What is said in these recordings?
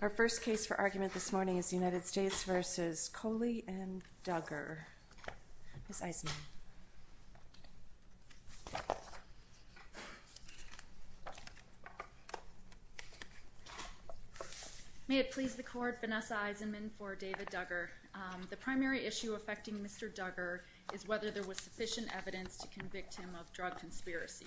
Our first case for argument this morning is the United States v. Coley and Duggar. Ms. Eisenman. May it please the Court, Vanessa Eisenman for David Duggar. The primary issue affecting Mr. Duggar is whether there was sufficient evidence to convict him of drug conspiracy.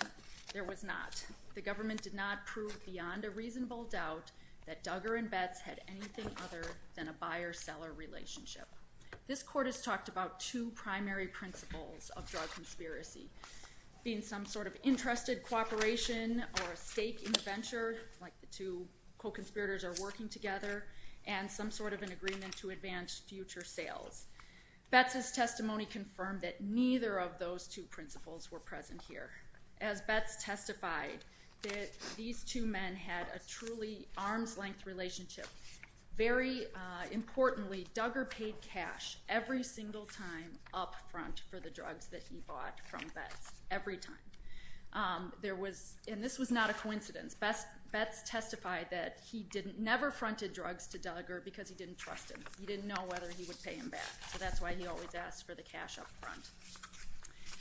There was not. The government did not prove beyond a reasonable doubt that Duggar and Betz had anything other than a buyer-seller relationship. This Court has talked about two primary principles of drug conspiracy, being some sort of interested cooperation or a stake in the venture, like the two co-conspirators are working together, and some sort of an agreement to advance future sales. Betz's testimony confirmed that neither of those two principles were present here. As Betz testified, these two men had a truly arm's-length relationship. Very importantly, Duggar paid cash every single time up front for the drugs that he bought from Betz, every time. And this was not a coincidence. Betz testified that he never fronted drugs to Duggar because he didn't trust him. He didn't know whether he would pay him back, so that's why he always asked for the cash up front.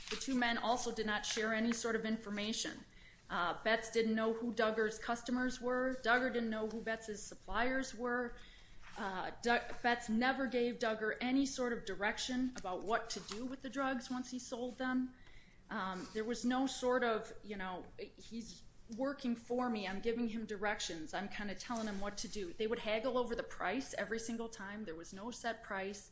The two men also did not share any sort of information. Betz didn't know who Duggar's customers were. Duggar didn't know who Betz's suppliers were. Betz never gave Duggar any sort of direction about what to do with the drugs once he sold them. There was no sort of, you know, he's working for me, I'm giving him directions, I'm kind of telling him what to do. They would haggle over the price every single time. There was no set price.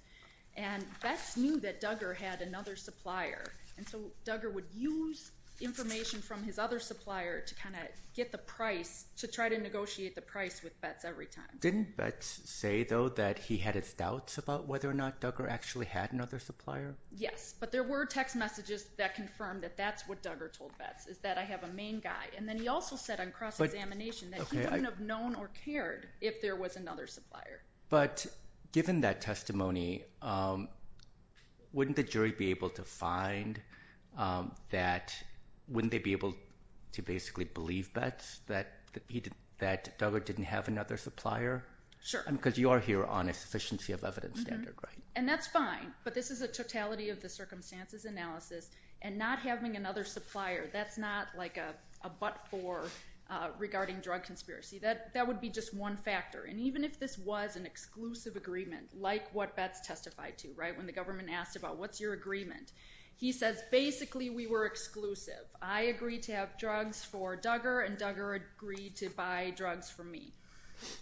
And Betz knew that Duggar had another supplier, and so Duggar would use information from his other supplier to kind of get the price, to try to negotiate the price with Betz every time. Didn't Betz say, though, that he had his doubts about whether or not Duggar actually had another supplier? Yes, but there were text messages that confirmed that that's what Duggar told Betz, is that I have a main guy. And then he also said on cross-examination that he wouldn't have known or cared if there was another supplier. But given that testimony, wouldn't the jury be able to find that, wouldn't they be able to basically believe Betz that Duggar didn't have another supplier? Sure. Because you are here on a sufficiency of evidence standard, right? And that's fine, but this is a totality of the circumstances analysis, and not having another supplier, that's not like a but-for regarding drug conspiracy. That would be just one factor. And even if this was an exclusive agreement, like what Betz testified to, right, when the government asked about what's your agreement, he says basically we were exclusive. I agreed to have drugs for Duggar, and Duggar agreed to buy drugs for me.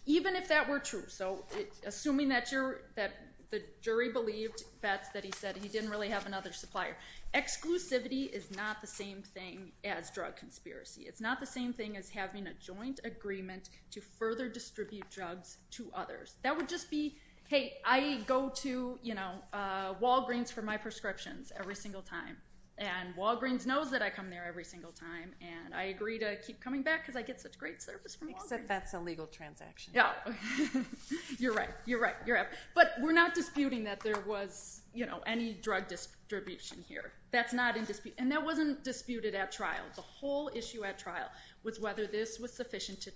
Even if that were true, so assuming that the jury believed, Betz, that he said he didn't really have another supplier, exclusivity is not the same thing as drug conspiracy. It's not the same thing as having a joint agreement to further distribute drugs to others. That would just be, hey, I go to Walgreens for my prescriptions every single time, and Walgreens knows that I come there every single time, and I agree to keep coming back because I get such great service from Walgreens. Except that's a legal transaction. Yeah. You're right. You're right. You're right. But we're not disputing that there was any drug distribution here. That's not in dispute. And that wasn't disputed at trial. The whole issue at trial was whether this was sufficient to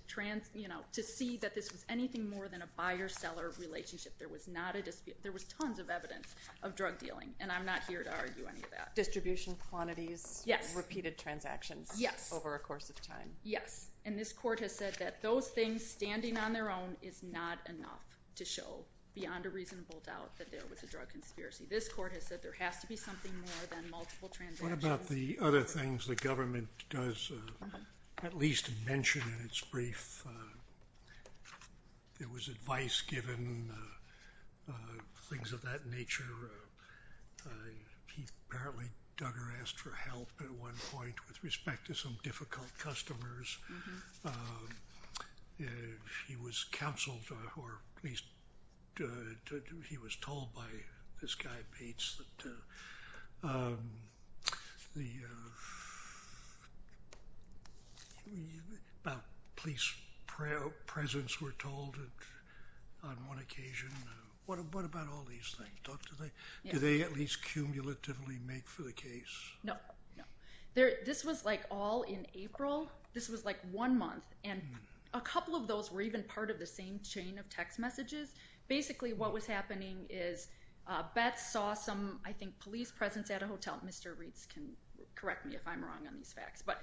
see that this was anything more than a buyer-seller relationship. There was not a dispute. There was tons of evidence of drug dealing, and I'm not here to argue any of that. Distribution quantities. Yes. Repeated transactions. Yes. Over a course of time. Yes. And this court has said that those things standing on their own is not enough to show beyond a reasonable doubt that there was a drug conspiracy. This court has said there has to be something more than multiple transactions. What about the other things the government does at least mention in its brief? There was advice given, things of that nature. Apparently, Duggar asked for help at one point with respect to some difficult customers. He was counseled, or at least he was told by this guy, Bates, about police presence, we're told, on one occasion. What about all these things? Do they at least cumulatively make for the case? No. This was, like, all in April. This was, like, one month, and a couple of those were even part of the same chain of text messages. Basically, what was happening is Bates saw some, I think, police presence at a hotel. Mr. Reitz can correct me if I'm wrong on these facts, but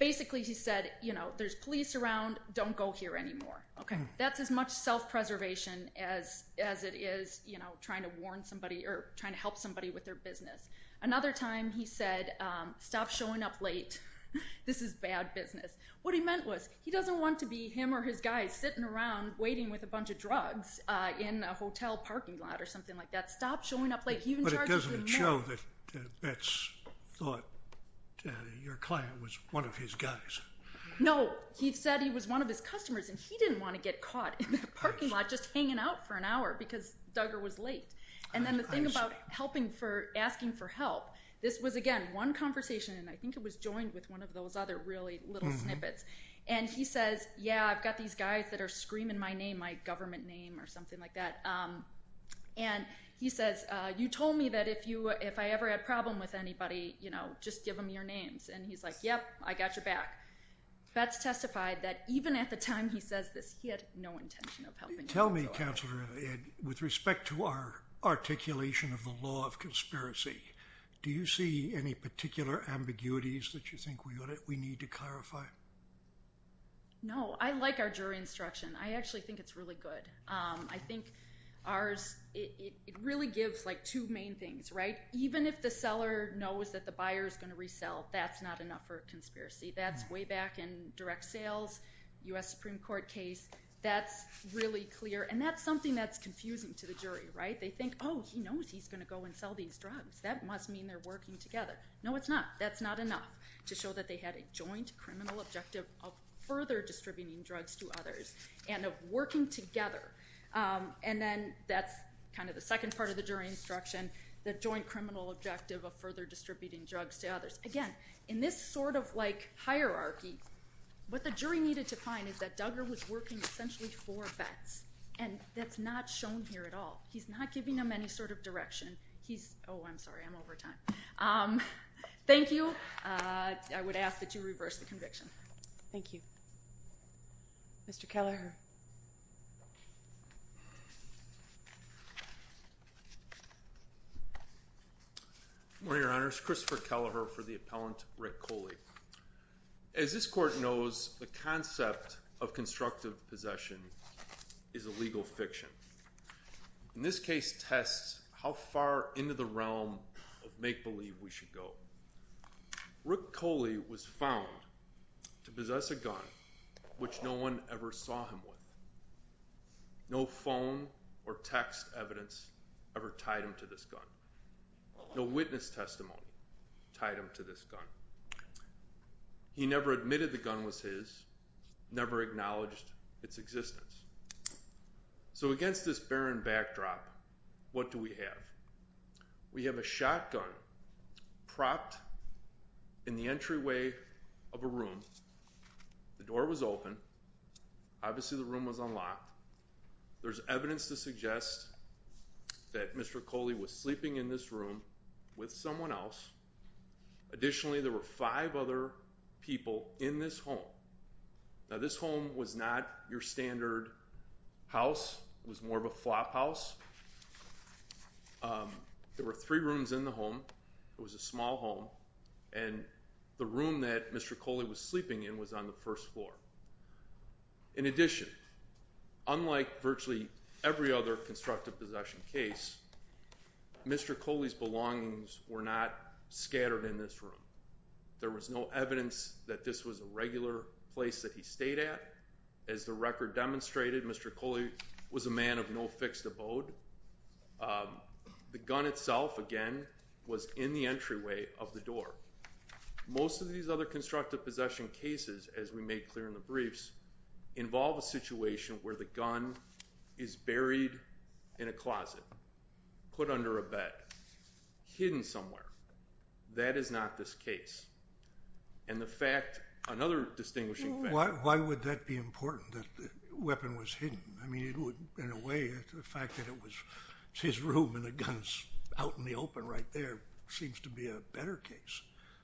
basically he said, you know, there's police around. Don't go here anymore. Okay. That's as much self-preservation as it is, you know, trying to warn somebody or trying to help somebody with their business. Another time, he said, stop showing up late. This is bad business. What he meant was he doesn't want to be him or his guys sitting around waiting with a bunch of drugs in a hotel parking lot or something like that. Stop showing up late. He even charges him more. But it doesn't show that Bates thought your client was one of his guys. No. He said he was one of his customers, and he didn't want to get caught in the parking lot just hanging out for an hour because Duggar was late. And then the thing about asking for help, this was, again, one conversation, and I think it was joined with one of those other really little snippets. And he says, yeah, I've got these guys that are screaming my name, my government name or something like that. And he says, you told me that if I ever had a problem with anybody, you know, just give them your names. And he's like, yep, I got your back. Bates testified that even at the time he says this, he had no intention of helping anybody. Tell me, Counselor Ed, with respect to our articulation of the law of conspiracy, do you see any particular ambiguities that you think we need to clarify? No. I like our jury instruction. I actually think it's really good. I think ours, it really gives, like, two main things, right? Even if the seller knows that the buyer is going to resell, that's not enough for a conspiracy. That's way back in direct sales, U.S. Supreme Court case. That's really clear. And that's something that's confusing to the jury, right? They think, oh, he knows he's going to go and sell these drugs. That must mean they're working together. No, it's not. That's not enough to show that they had a joint criminal objective of further distributing drugs to others and of working together. And then that's kind of the second part of the jury instruction, the joint criminal objective of further distributing drugs to others. Again, in this sort of, like, hierarchy, what the jury needed to find is that Duggar was working essentially for vets, and that's not shown here at all. He's not giving them any sort of direction. He's – oh, I'm sorry. I'm over time. Thank you. I would ask that you reverse the conviction. Thank you. Mr. Kelleher. Good morning, Your Honors. Christopher Kelleher for the appellant, Rick Coley. As this court knows, the concept of constructive possession is a legal fiction. And this case tests how far into the realm of make-believe we should go. Rick Coley was found to possess a gun which no one ever saw him with. No phone or text evidence ever tied him to this gun. No witness testimony tied him to this gun. He never admitted the gun was his, never acknowledged its existence. So against this barren backdrop, what do we have? We have a shotgun propped in the entryway of a room. The door was open. Obviously, the room was unlocked. There's evidence to suggest that Mr. Coley was sleeping in this room with someone else. Additionally, there were five other people in this home. Now, this home was not your standard house. It was more of a flop house. There were three rooms in the home. It was a small home. And the room that Mr. Coley was sleeping in was on the first floor. In addition, unlike virtually every other constructive possession case, Mr. Coley's belongings were not scattered in this room. There was no evidence that this was a regular place that he stayed at. As the record demonstrated, Mr. Coley was a man of no fixed abode. The gun itself, again, was in the entryway of the door. Most of these other constructive possession cases, as we made clear in the briefs, involve a situation where the gun is buried in a closet, put under a bed, hidden somewhere. That is not this case. And the fact, another distinguishing fact. Why would that be important that the weapon was hidden? I mean, in a way, the fact that it was his room and the gun's out in the open right there seems to be a better case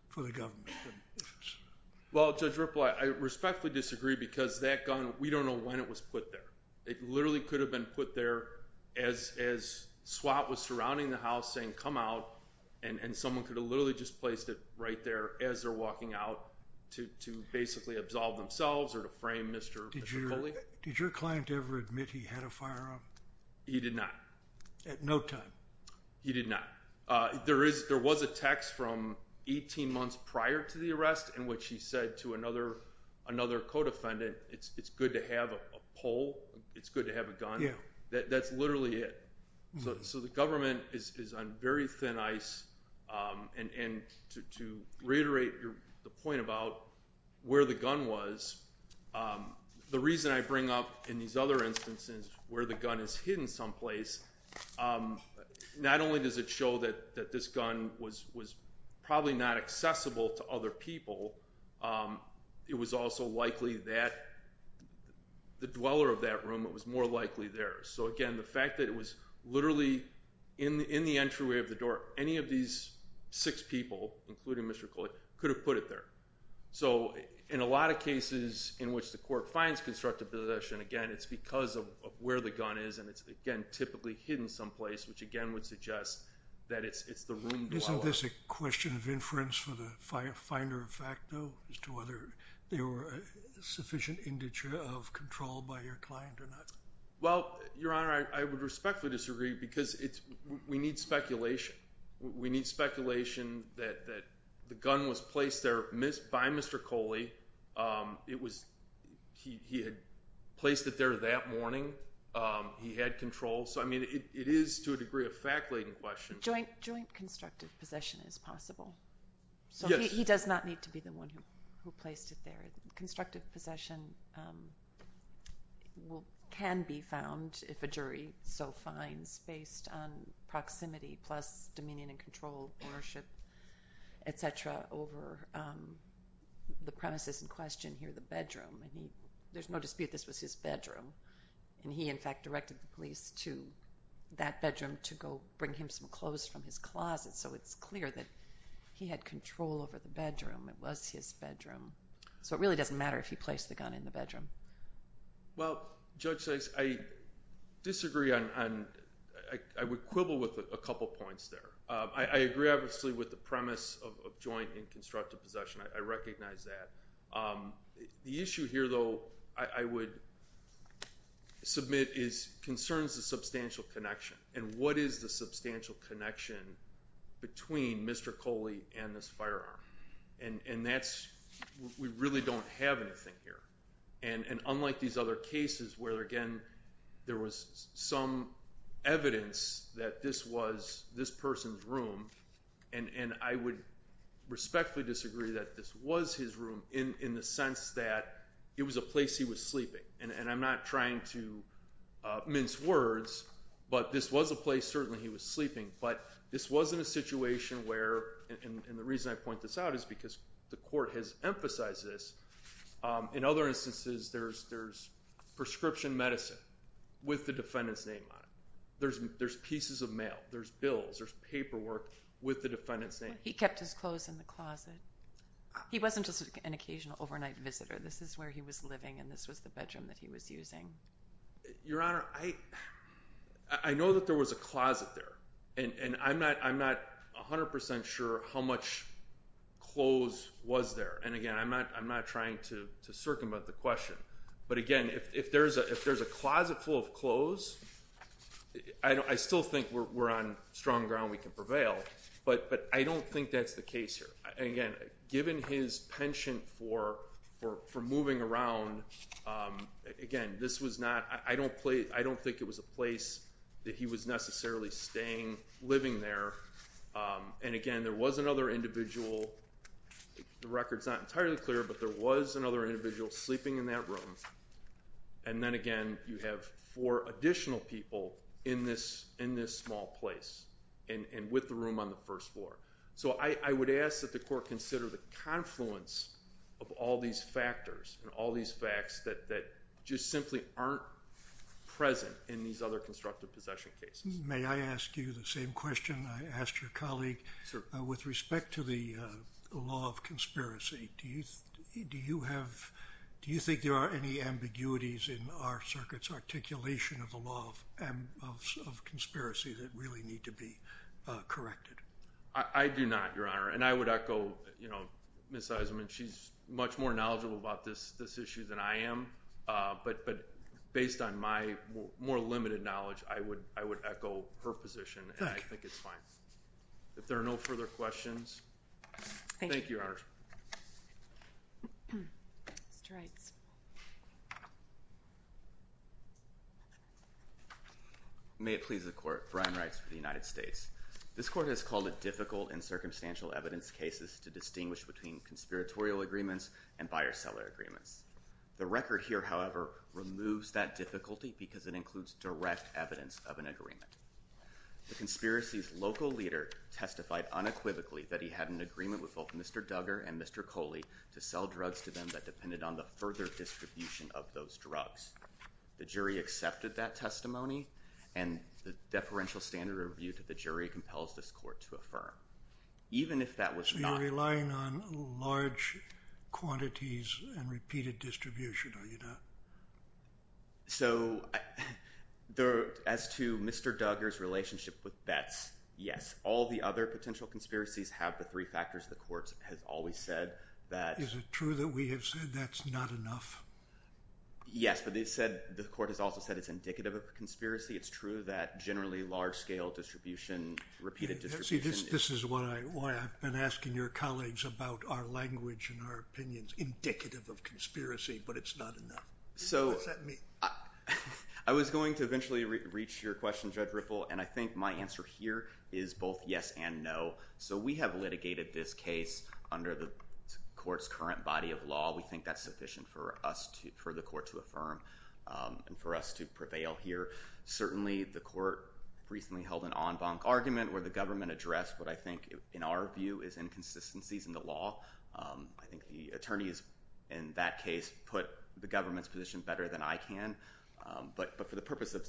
for the government. Well, Judge Ripple, I respectfully disagree because that gun, we don't know when it was put there. It literally could have been put there as SWAT was surrounding the house saying, come out, and someone could have literally just placed it right there as they're walking out to basically absolve themselves or to frame Mr. Coley. Did your client ever admit he had a firearm? He did not. At no time? He did not. There was a text from 18 months prior to the arrest in which he said to another co-defendant, it's good to have a pole. It's good to have a gun. That's literally it. So the government is on very thin ice. And to reiterate the point about where the gun was, the reason I bring up in these other instances where the gun is hidden someplace, not only does it show that this gun was probably not accessible to other people, it was also likely that the dweller of that room, it was more likely theirs. So again, the fact that it was literally in the entryway of the door, any of these six people, including Mr. Coley, could have put it there. So in a lot of cases in which the court finds constructive possession, again, it's because of where the gun is. And it's, again, typically hidden someplace, which again would suggest that it's the room dweller. Isn't this a question of inference for the finder of fact, though, as to whether there were a sufficient integer of control by your client or not? Well, Your Honor, I would respectfully disagree because we need speculation. We need speculation that the gun was placed there by Mr. Coley. It was – he had placed it there that morning. He had control. So, I mean, it is to a degree a fact-laden question. Joint constructive possession is possible. Yes. So he does not need to be the one who placed it there. Constructive possession can be found, if a jury so finds, based on proximity plus dominion and control, ownership, et cetera, over the premises in question here, the bedroom. And there's no dispute this was his bedroom. And he, in fact, directed the police to that bedroom to go bring him some clothes from his closet. So it's clear that he had control over the bedroom. It was his bedroom. So it really doesn't matter if he placed the gun in the bedroom. Well, Judge Sykes, I disagree on – I would quibble with a couple points there. I agree, obviously, with the premise of joint and constructive possession. I recognize that. The issue here, though, I would submit is concerns the substantial connection. And what is the substantial connection between Mr. Coley and this firearm? And that's – we really don't have anything here. And unlike these other cases where, again, there was some evidence that this was this person's room, and I would respectfully disagree that this was his room in the sense that it was a place he was sleeping. And I'm not trying to mince words, but this was a place, certainly, he was sleeping. But this wasn't a situation where – and the reason I point this out is because the court has emphasized this. In other instances, there's prescription medicine with the defendant's name on it. There's pieces of mail. There's bills. There's paperwork with the defendant's name. He kept his clothes in the closet. He wasn't just an occasional overnight visitor. This is where he was living, and this was the bedroom that he was using. Your Honor, I know that there was a closet there, and I'm not 100% sure how much clothes was there. And, again, I'm not trying to circumvent the question. But, again, if there's a closet full of clothes, I still think we're on strong ground. We can prevail. But I don't think that's the case here. Again, given his penchant for moving around, again, this was not – I don't think it was a place that he was necessarily staying, living there. And, again, there was another individual. The record's not entirely clear, but there was another individual sleeping in that room. And then, again, you have four additional people in this small place and with the room on the first floor. So I would ask that the court consider the confluence of all these factors and all these facts that just simply aren't present in these other constructive possession cases. May I ask you the same question I asked your colleague? Sure. With respect to the law of conspiracy, do you think there are any ambiguities in our circuit's articulation of the law of conspiracy that really need to be corrected? I do not, Your Honor. And I would echo Ms. Eisenman. She's much more knowledgeable about this issue than I am. But based on my more limited knowledge, I would echo her position. Thank you. And I think it's fine. If there are no further questions. Thank you. Thank you, Your Honor. Mr. Reitz. May it please the Court. Brian Reitz for the United States. This Court has called it difficult in circumstantial evidence cases to distinguish between conspiratorial agreements and buyer-seller agreements. The record here, however, removes that difficulty because it includes direct evidence of an agreement. The conspiracy's local leader testified unequivocally that he had an agreement with both Mr. Duggar and Mr. Coley to sell drugs to them that depended on the further distribution of those drugs. The jury accepted that testimony. And the deferential standard of review to the jury compels this Court to affirm. Even if that was not... So you're relying on large quantities and repeated distribution, are you not? So as to Mr. Duggar's relationship with Betz, yes. All the other potential conspiracies have the three factors the Court has always said that... Is it true that we have said that's not enough? Yes, but the Court has also said it's indicative of a conspiracy. It's true that generally large-scale distribution, repeated distribution... See, this is why I've been asking your colleagues about our language and our opinions. Indicative of conspiracy, but it's not enough. So I was going to eventually reach your question, Judge Ripple, and I think my answer here is both yes and no. So we have litigated this case under the Court's current body of law. We think that's sufficient for the Court to affirm and for us to prevail here. Certainly, the Court recently held an en banc argument where the government addressed what I think, in our view, is inconsistencies in the law. I think the attorneys in that case put the government's position better than I can. But for the purpose of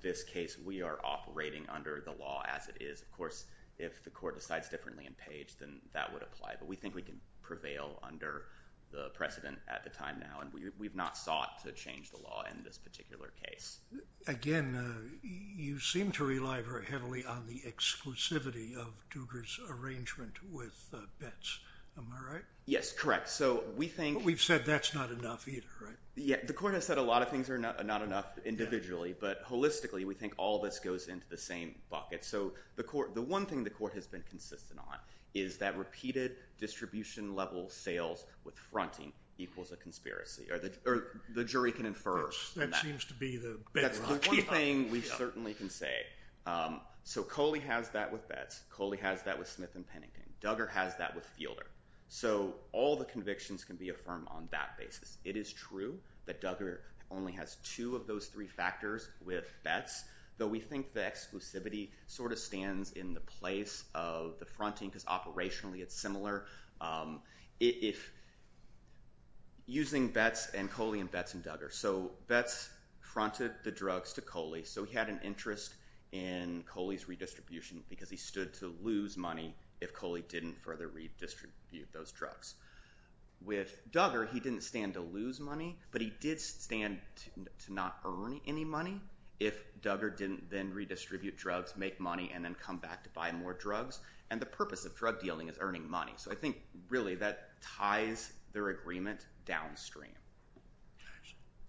this case, we are operating under the law as it is. Of course, if the Court decides differently in Page, then that would apply. But we think we can prevail under the precedent at the time now, and we've not sought to change the law in this particular case. Again, you seem to rely very heavily on the exclusivity of Duger's arrangement with Betz. Am I right? Yes, correct. So we think... But we've said that's not enough either, right? Yeah, the Court has said a lot of things are not enough individually, but holistically, we think all of this goes into the same bucket. So the one thing the Court has been consistent on is that repeated distribution-level sales with fronting equals a conspiracy, or the jury can infer. That seems to be the bedrock. That's the one thing we certainly can say. So Coley has that with Betz. Coley has that with Smith and Pennington. Duger has that with Fielder. So all the convictions can be affirmed on that basis. It is true that Duger only has two of those three factors with Betz, though we think the exclusivity sort of stands in the place of the fronting because operationally it's similar. Using Betz and Coley and Betz and Duger. So Betz fronted the drugs to Coley, so he had an interest in Coley's redistribution because he stood to lose money if Coley didn't further redistribute those drugs. With Duger, he didn't stand to lose money, but he did stand to not earn any money if Duger didn't then redistribute drugs, make money, and then come back to buy more drugs. And the purpose of drug dealing is earning money. So I think really that ties their agreement downstream.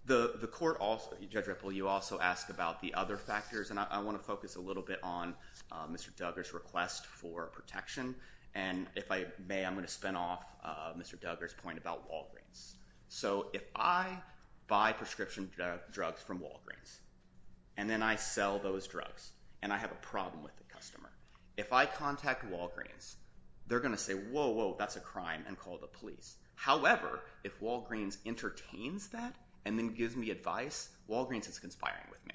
The Court also – Judge Ripple, you also asked about the other factors, and I want to focus a little bit on Mr. Duger's request for protection. And if I may, I'm going to spin off Mr. Duger's point about Walgreens. So if I buy prescription drugs from Walgreens and then I sell those drugs and I have a problem with the customer, if I contact Walgreens, they're going to say, whoa, whoa, that's a crime and call the police. However, if Walgreens entertains that and then gives me advice, Walgreens is conspiring with me.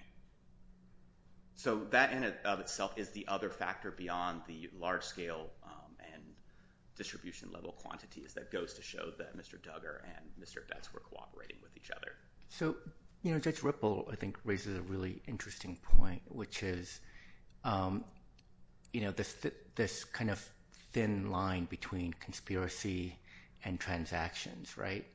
So that in and of itself is the other factor beyond the large-scale and distribution-level quantities that goes to show that Mr. Duger and Mr. Betz were cooperating with each other. So Judge Ripple, I think, raises a really interesting point, which is this kind of thin line between conspiracy and transactions, right?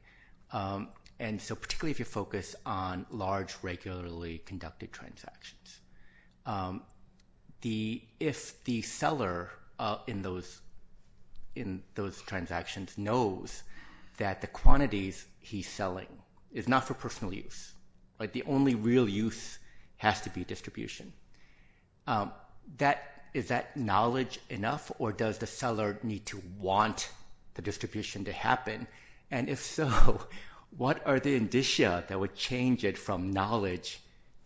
And so particularly if you focus on large, regularly conducted transactions, if the seller in those transactions knows that the quantities he's selling is not for personal use, like the only real use has to be distribution, is that knowledge enough or does the seller need to want the distribution to happen? And if so, what are the indicia that would change it from knowledge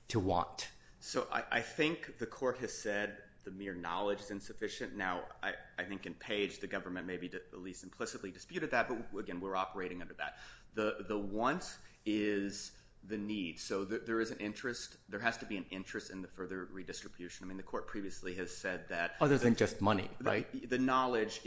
to want? So I think the court has said the mere knowledge is insufficient. Now, I think in Page, the government maybe at least implicitly disputed that, but again, we're operating under that. The want is the need. So there is an interest. There has to be an interest in the further redistribution. I mean the court previously has said that. Other than just money, right? The knowledge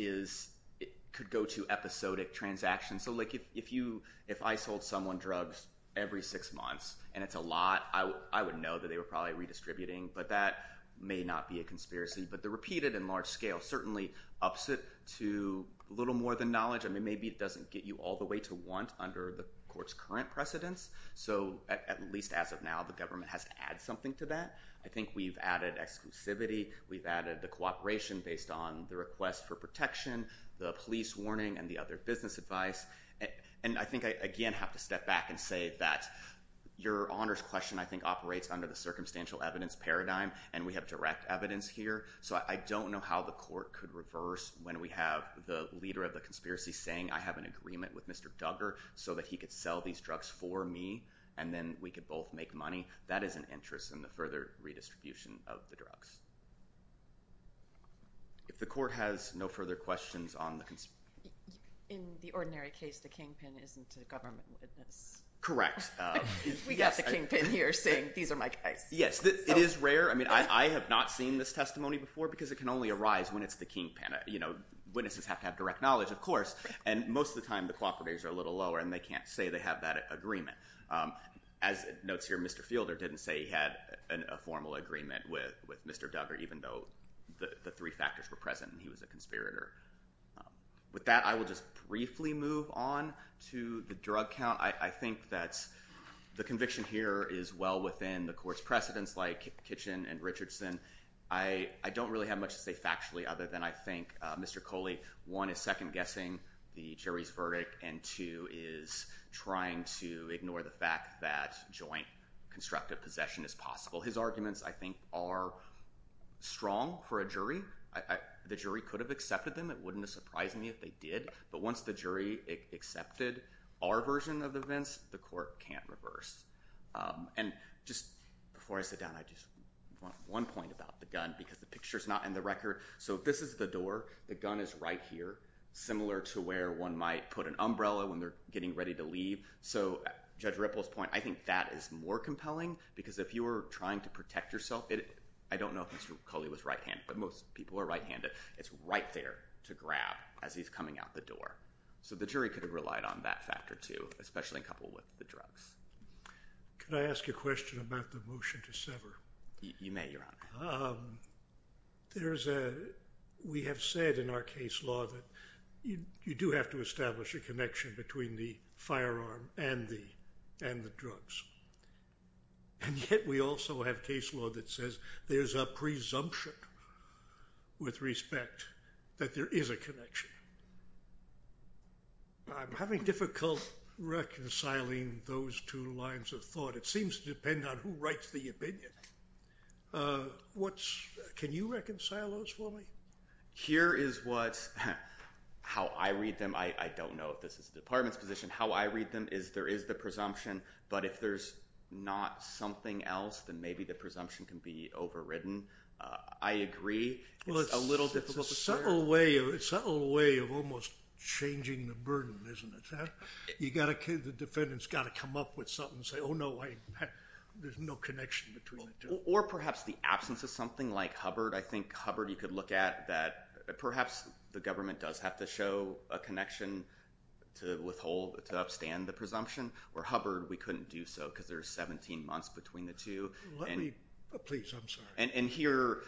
could go to episodic transactions. So like if I sold someone drugs every six months and it's a lot, I would know that they were probably redistributing, but that may not be a conspiracy. But the repeated in large scale certainly ups it to a little more than knowledge. I mean maybe it doesn't get you all the way to want under the court's current precedence. So at least as of now, the government has to add something to that. I think we've added exclusivity. We've added the cooperation based on the request for protection, the police warning, and the other business advice. And I think I again have to step back and say that your honors question I think operates under the circumstantial evidence paradigm, and we have direct evidence here. So I don't know how the court could reverse when we have the leader of the conspiracy saying I have an agreement with Mr. Duggar so that he could sell these drugs for me and then we could both make money. That is an interest in the further redistribution of the drugs. If the court has no further questions on the conspiracy. In the ordinary case, the kingpin isn't a government witness. Correct. We got the kingpin here saying these are my guys. Yes, it is rare. I mean I have not seen this testimony before because it can only arise when it's the kingpin. Witnesses have to have direct knowledge, of course, and most of the time the cooperators are a little lower and they can't say they have that agreement. As it notes here, Mr. Fielder didn't say he had a formal agreement with Mr. Duggar even though the three factors were present and he was a conspirator. With that, I will just briefly move on to the drug count. I think that the conviction here is well within the court's precedence like Kitchen and Richardson. I don't really have much to say factually other than I think Mr. Coley, one, is second guessing the jury's verdict, and two, is trying to ignore the fact that joint constructive possession is possible. His arguments, I think, are strong for a jury. The jury could have accepted them. It wouldn't have surprised me if they did. But once the jury accepted our version of the events, the court can't reverse. And just before I sit down, I just want one point about the gun because the picture is not in the record. So if this is the door, the gun is right here, similar to where one might put an umbrella when they're getting ready to leave. So Judge Ripple's point, I think that is more compelling because if you were trying to protect yourself, I don't know if Mr. Coley was right-handed, but most people are right-handed. It's right there to grab as he's coming out the door. So the jury could have relied on that factor too, especially in couple with the drugs. Could I ask a question about the motion to sever? You may, Your Honor. We have said in our case law that you do have to establish a connection between the firearm and the drugs. And yet we also have case law that says there's a presumption with respect that there is a connection. I'm having difficulty reconciling those two lines of thought. It seems to depend on who writes the opinion. Can you reconcile those for me? Here is how I read them. I don't know if this is the Department's position. How I read them is there is the presumption, but if there's not something else, then maybe the presumption can be overridden. I agree. It's a subtle way of almost changing the burden, isn't it? The defendant's got to come up with something and say, oh, no, there's no connection between the two. Or perhaps the absence of something like Hubbard. I think Hubbard you could look at that perhaps the government does have to show a connection to withhold, to upstand the presumption. Where Hubbard, we couldn't do so because there's 17 months between the two. Please, I'm sorry. And here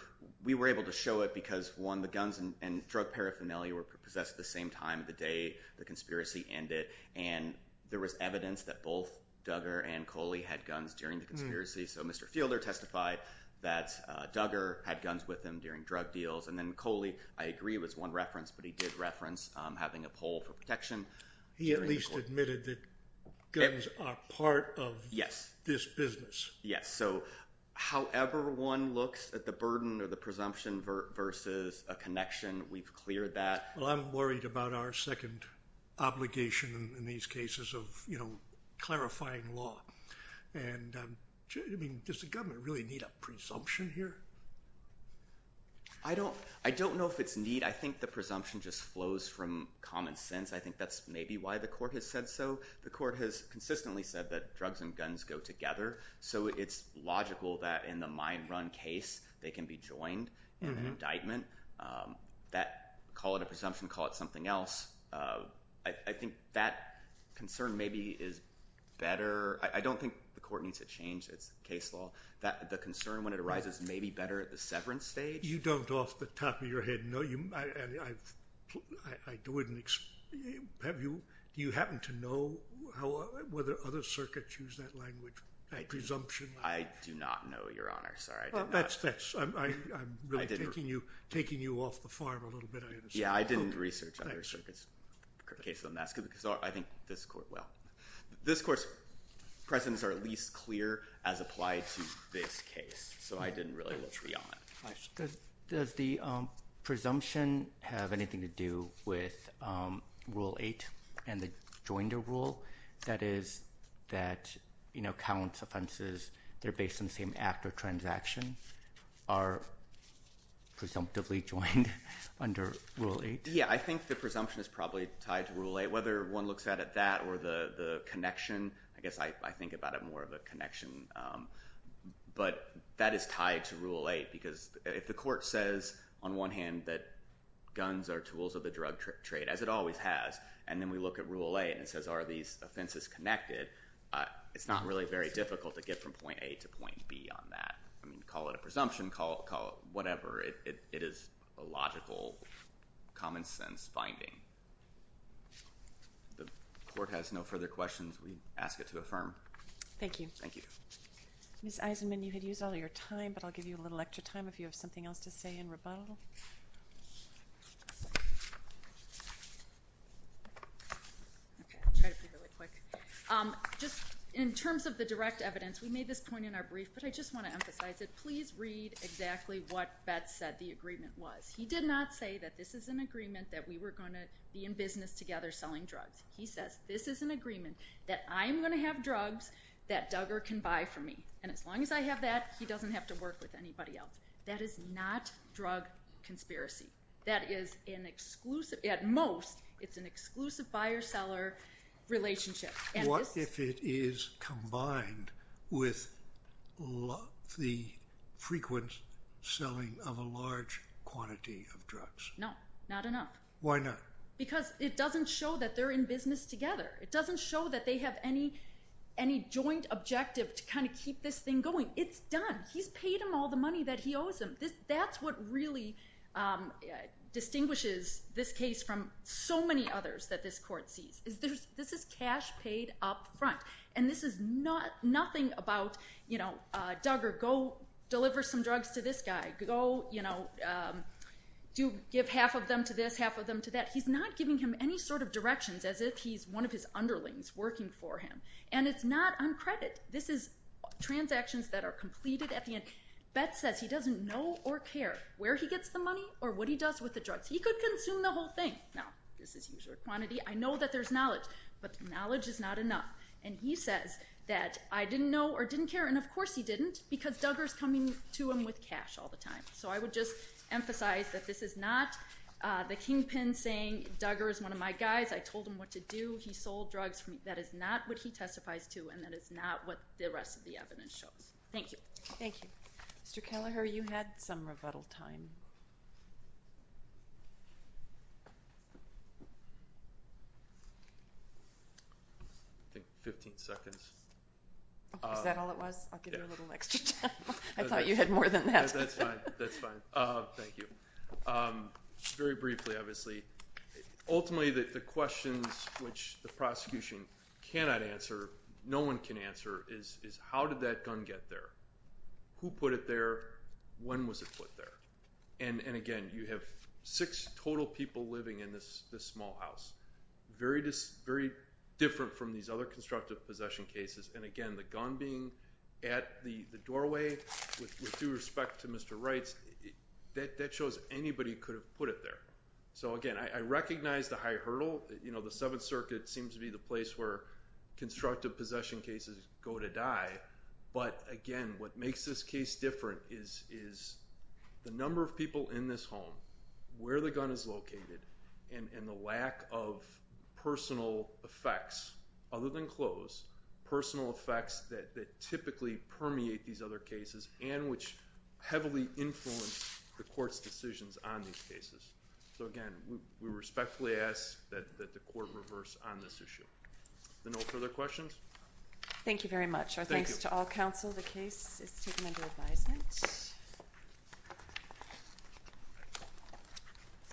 we were able to show it because one, the guns and drug paraphernalia were possessed at the same time, the day the conspiracy ended. And there was evidence that both Duggar and Coley had guns during the conspiracy. So Mr. Fielder testified that Duggar had guns with him during drug deals. And then Coley, I agree, was one reference, but he did reference having a pole for protection. He at least admitted that guns are part of this business. Yes, so however one looks at the burden or the presumption versus a connection, we've cleared that. Well, I'm worried about our second obligation in these cases of clarifying law. And does the government really need a presumption here? I don't know if it's need. I think the presumption just flows from common sense. I think that's maybe why the court has said so. The court has consistently said that drugs and guns go together. So it's logical that in the mine run case they can be joined in an indictment. Call it a presumption, call it something else. I think that concern maybe is better. I don't think the court needs to change its case law. The concern when it arises may be better at the severance stage. You don't off the top of your head know. Do you happen to know whether other circuits use that language, presumption? I do not know, Your Honor. Sorry, I didn't ask. I'm really taking you off the farm a little bit, I understand. Yeah, I didn't research other circuits' cases. I think this court will. This court's precedents are at least clear as applied to this case. So I didn't really look beyond it. Does the presumption have anything to do with Rule 8 and the joinder rule? That is that counts, offenses, they're based on the same act or transaction, are presumptively joined under Rule 8? Yeah, I think the presumption is probably tied to Rule 8. Whether one looks at it that or the connection, I guess I think about it more of a connection. But that is tied to Rule 8 because if the court says, on one hand, that guns are tools of the drug trade, as it always has, and then we look at Rule 8 and it says are these offenses connected, it's not really very difficult to get from point A to point B on that. Call it a presumption, call it whatever. It is a logical, common-sense finding. The court has no further questions. We ask it to affirm. Thank you. Thank you. Ms. Eisenman, you had used all of your time, but I'll give you a little extra time if you have something else to say in rebuttal. Okay, I'll try to be really quick. Just in terms of the direct evidence, we made this point in our brief, but I just want to emphasize it. Please read exactly what Betz said the agreement was. He did not say that this is an agreement that we were going to be in business together selling drugs. He says this is an agreement that I'm going to have drugs that Duggar can buy from me, and as long as I have that, he doesn't have to work with anybody else. That is not drug conspiracy. That is an exclusive, at most, it's an exclusive buyer-seller relationship. What if it is combined with the frequent selling of a large quantity of drugs? No, not enough. Why not? Because it doesn't show that they're in business together. It doesn't show that they have any joint objective to kind of keep this thing going. It's done. He's paid them all the money that he owes them. That's what really distinguishes this case from so many others that this court sees. This is cash paid up front, and this is nothing about, you know, Duggar, go deliver some drugs to this guy. Go, you know, give half of them to this, half of them to that. He's not giving him any sort of directions as if he's one of his underlings working for him, and it's not on credit. This is transactions that are completed at the end. Betz says he doesn't know or care where he gets the money or what he does with the drugs. He could consume the whole thing. Now, this is user quantity. I know that there's knowledge, but knowledge is not enough, and he says that I didn't know or didn't care, and, of course, he didn't, because Duggar's coming to him with cash all the time. So I would just emphasize that this is not the kingpin saying Duggar is one of my guys. I told him what to do. He sold drugs. That is not what he testifies to, and that is not what the rest of the evidence shows. Thank you. Thank you. Mr. Kelleher, you had some rebuttal time. I think 15 seconds. Is that all it was? I'll give you a little extra time. I thought you had more than that. That's fine. That's fine. Thank you. Very briefly, obviously, ultimately the questions which the prosecution cannot answer, no one can answer, is how did that gun get there? Who put it there? When was it put there? And, again, you have six total people living in this small house, very different from these other constructive possession cases, and, again, the gun being at the doorway with due respect to Mr. Wright's, that shows anybody could have put it there. So, again, I recognize the high hurdle. You know, the Seventh Circuit seems to be the place where constructive possession cases go to die, but, again, what makes this case different is the number of people in this home, where the gun is located, and the lack of personal effects other than gunshot wounds, which, again, is a case that we can't close, personal effects that typically permeate these other cases and which heavily influence the court's decisions on these cases. So, again, we respectfully ask that the court reverse on this issue. Are there no further questions? Thank you very much. Our thanks to all counsel. The case is taken under advisement.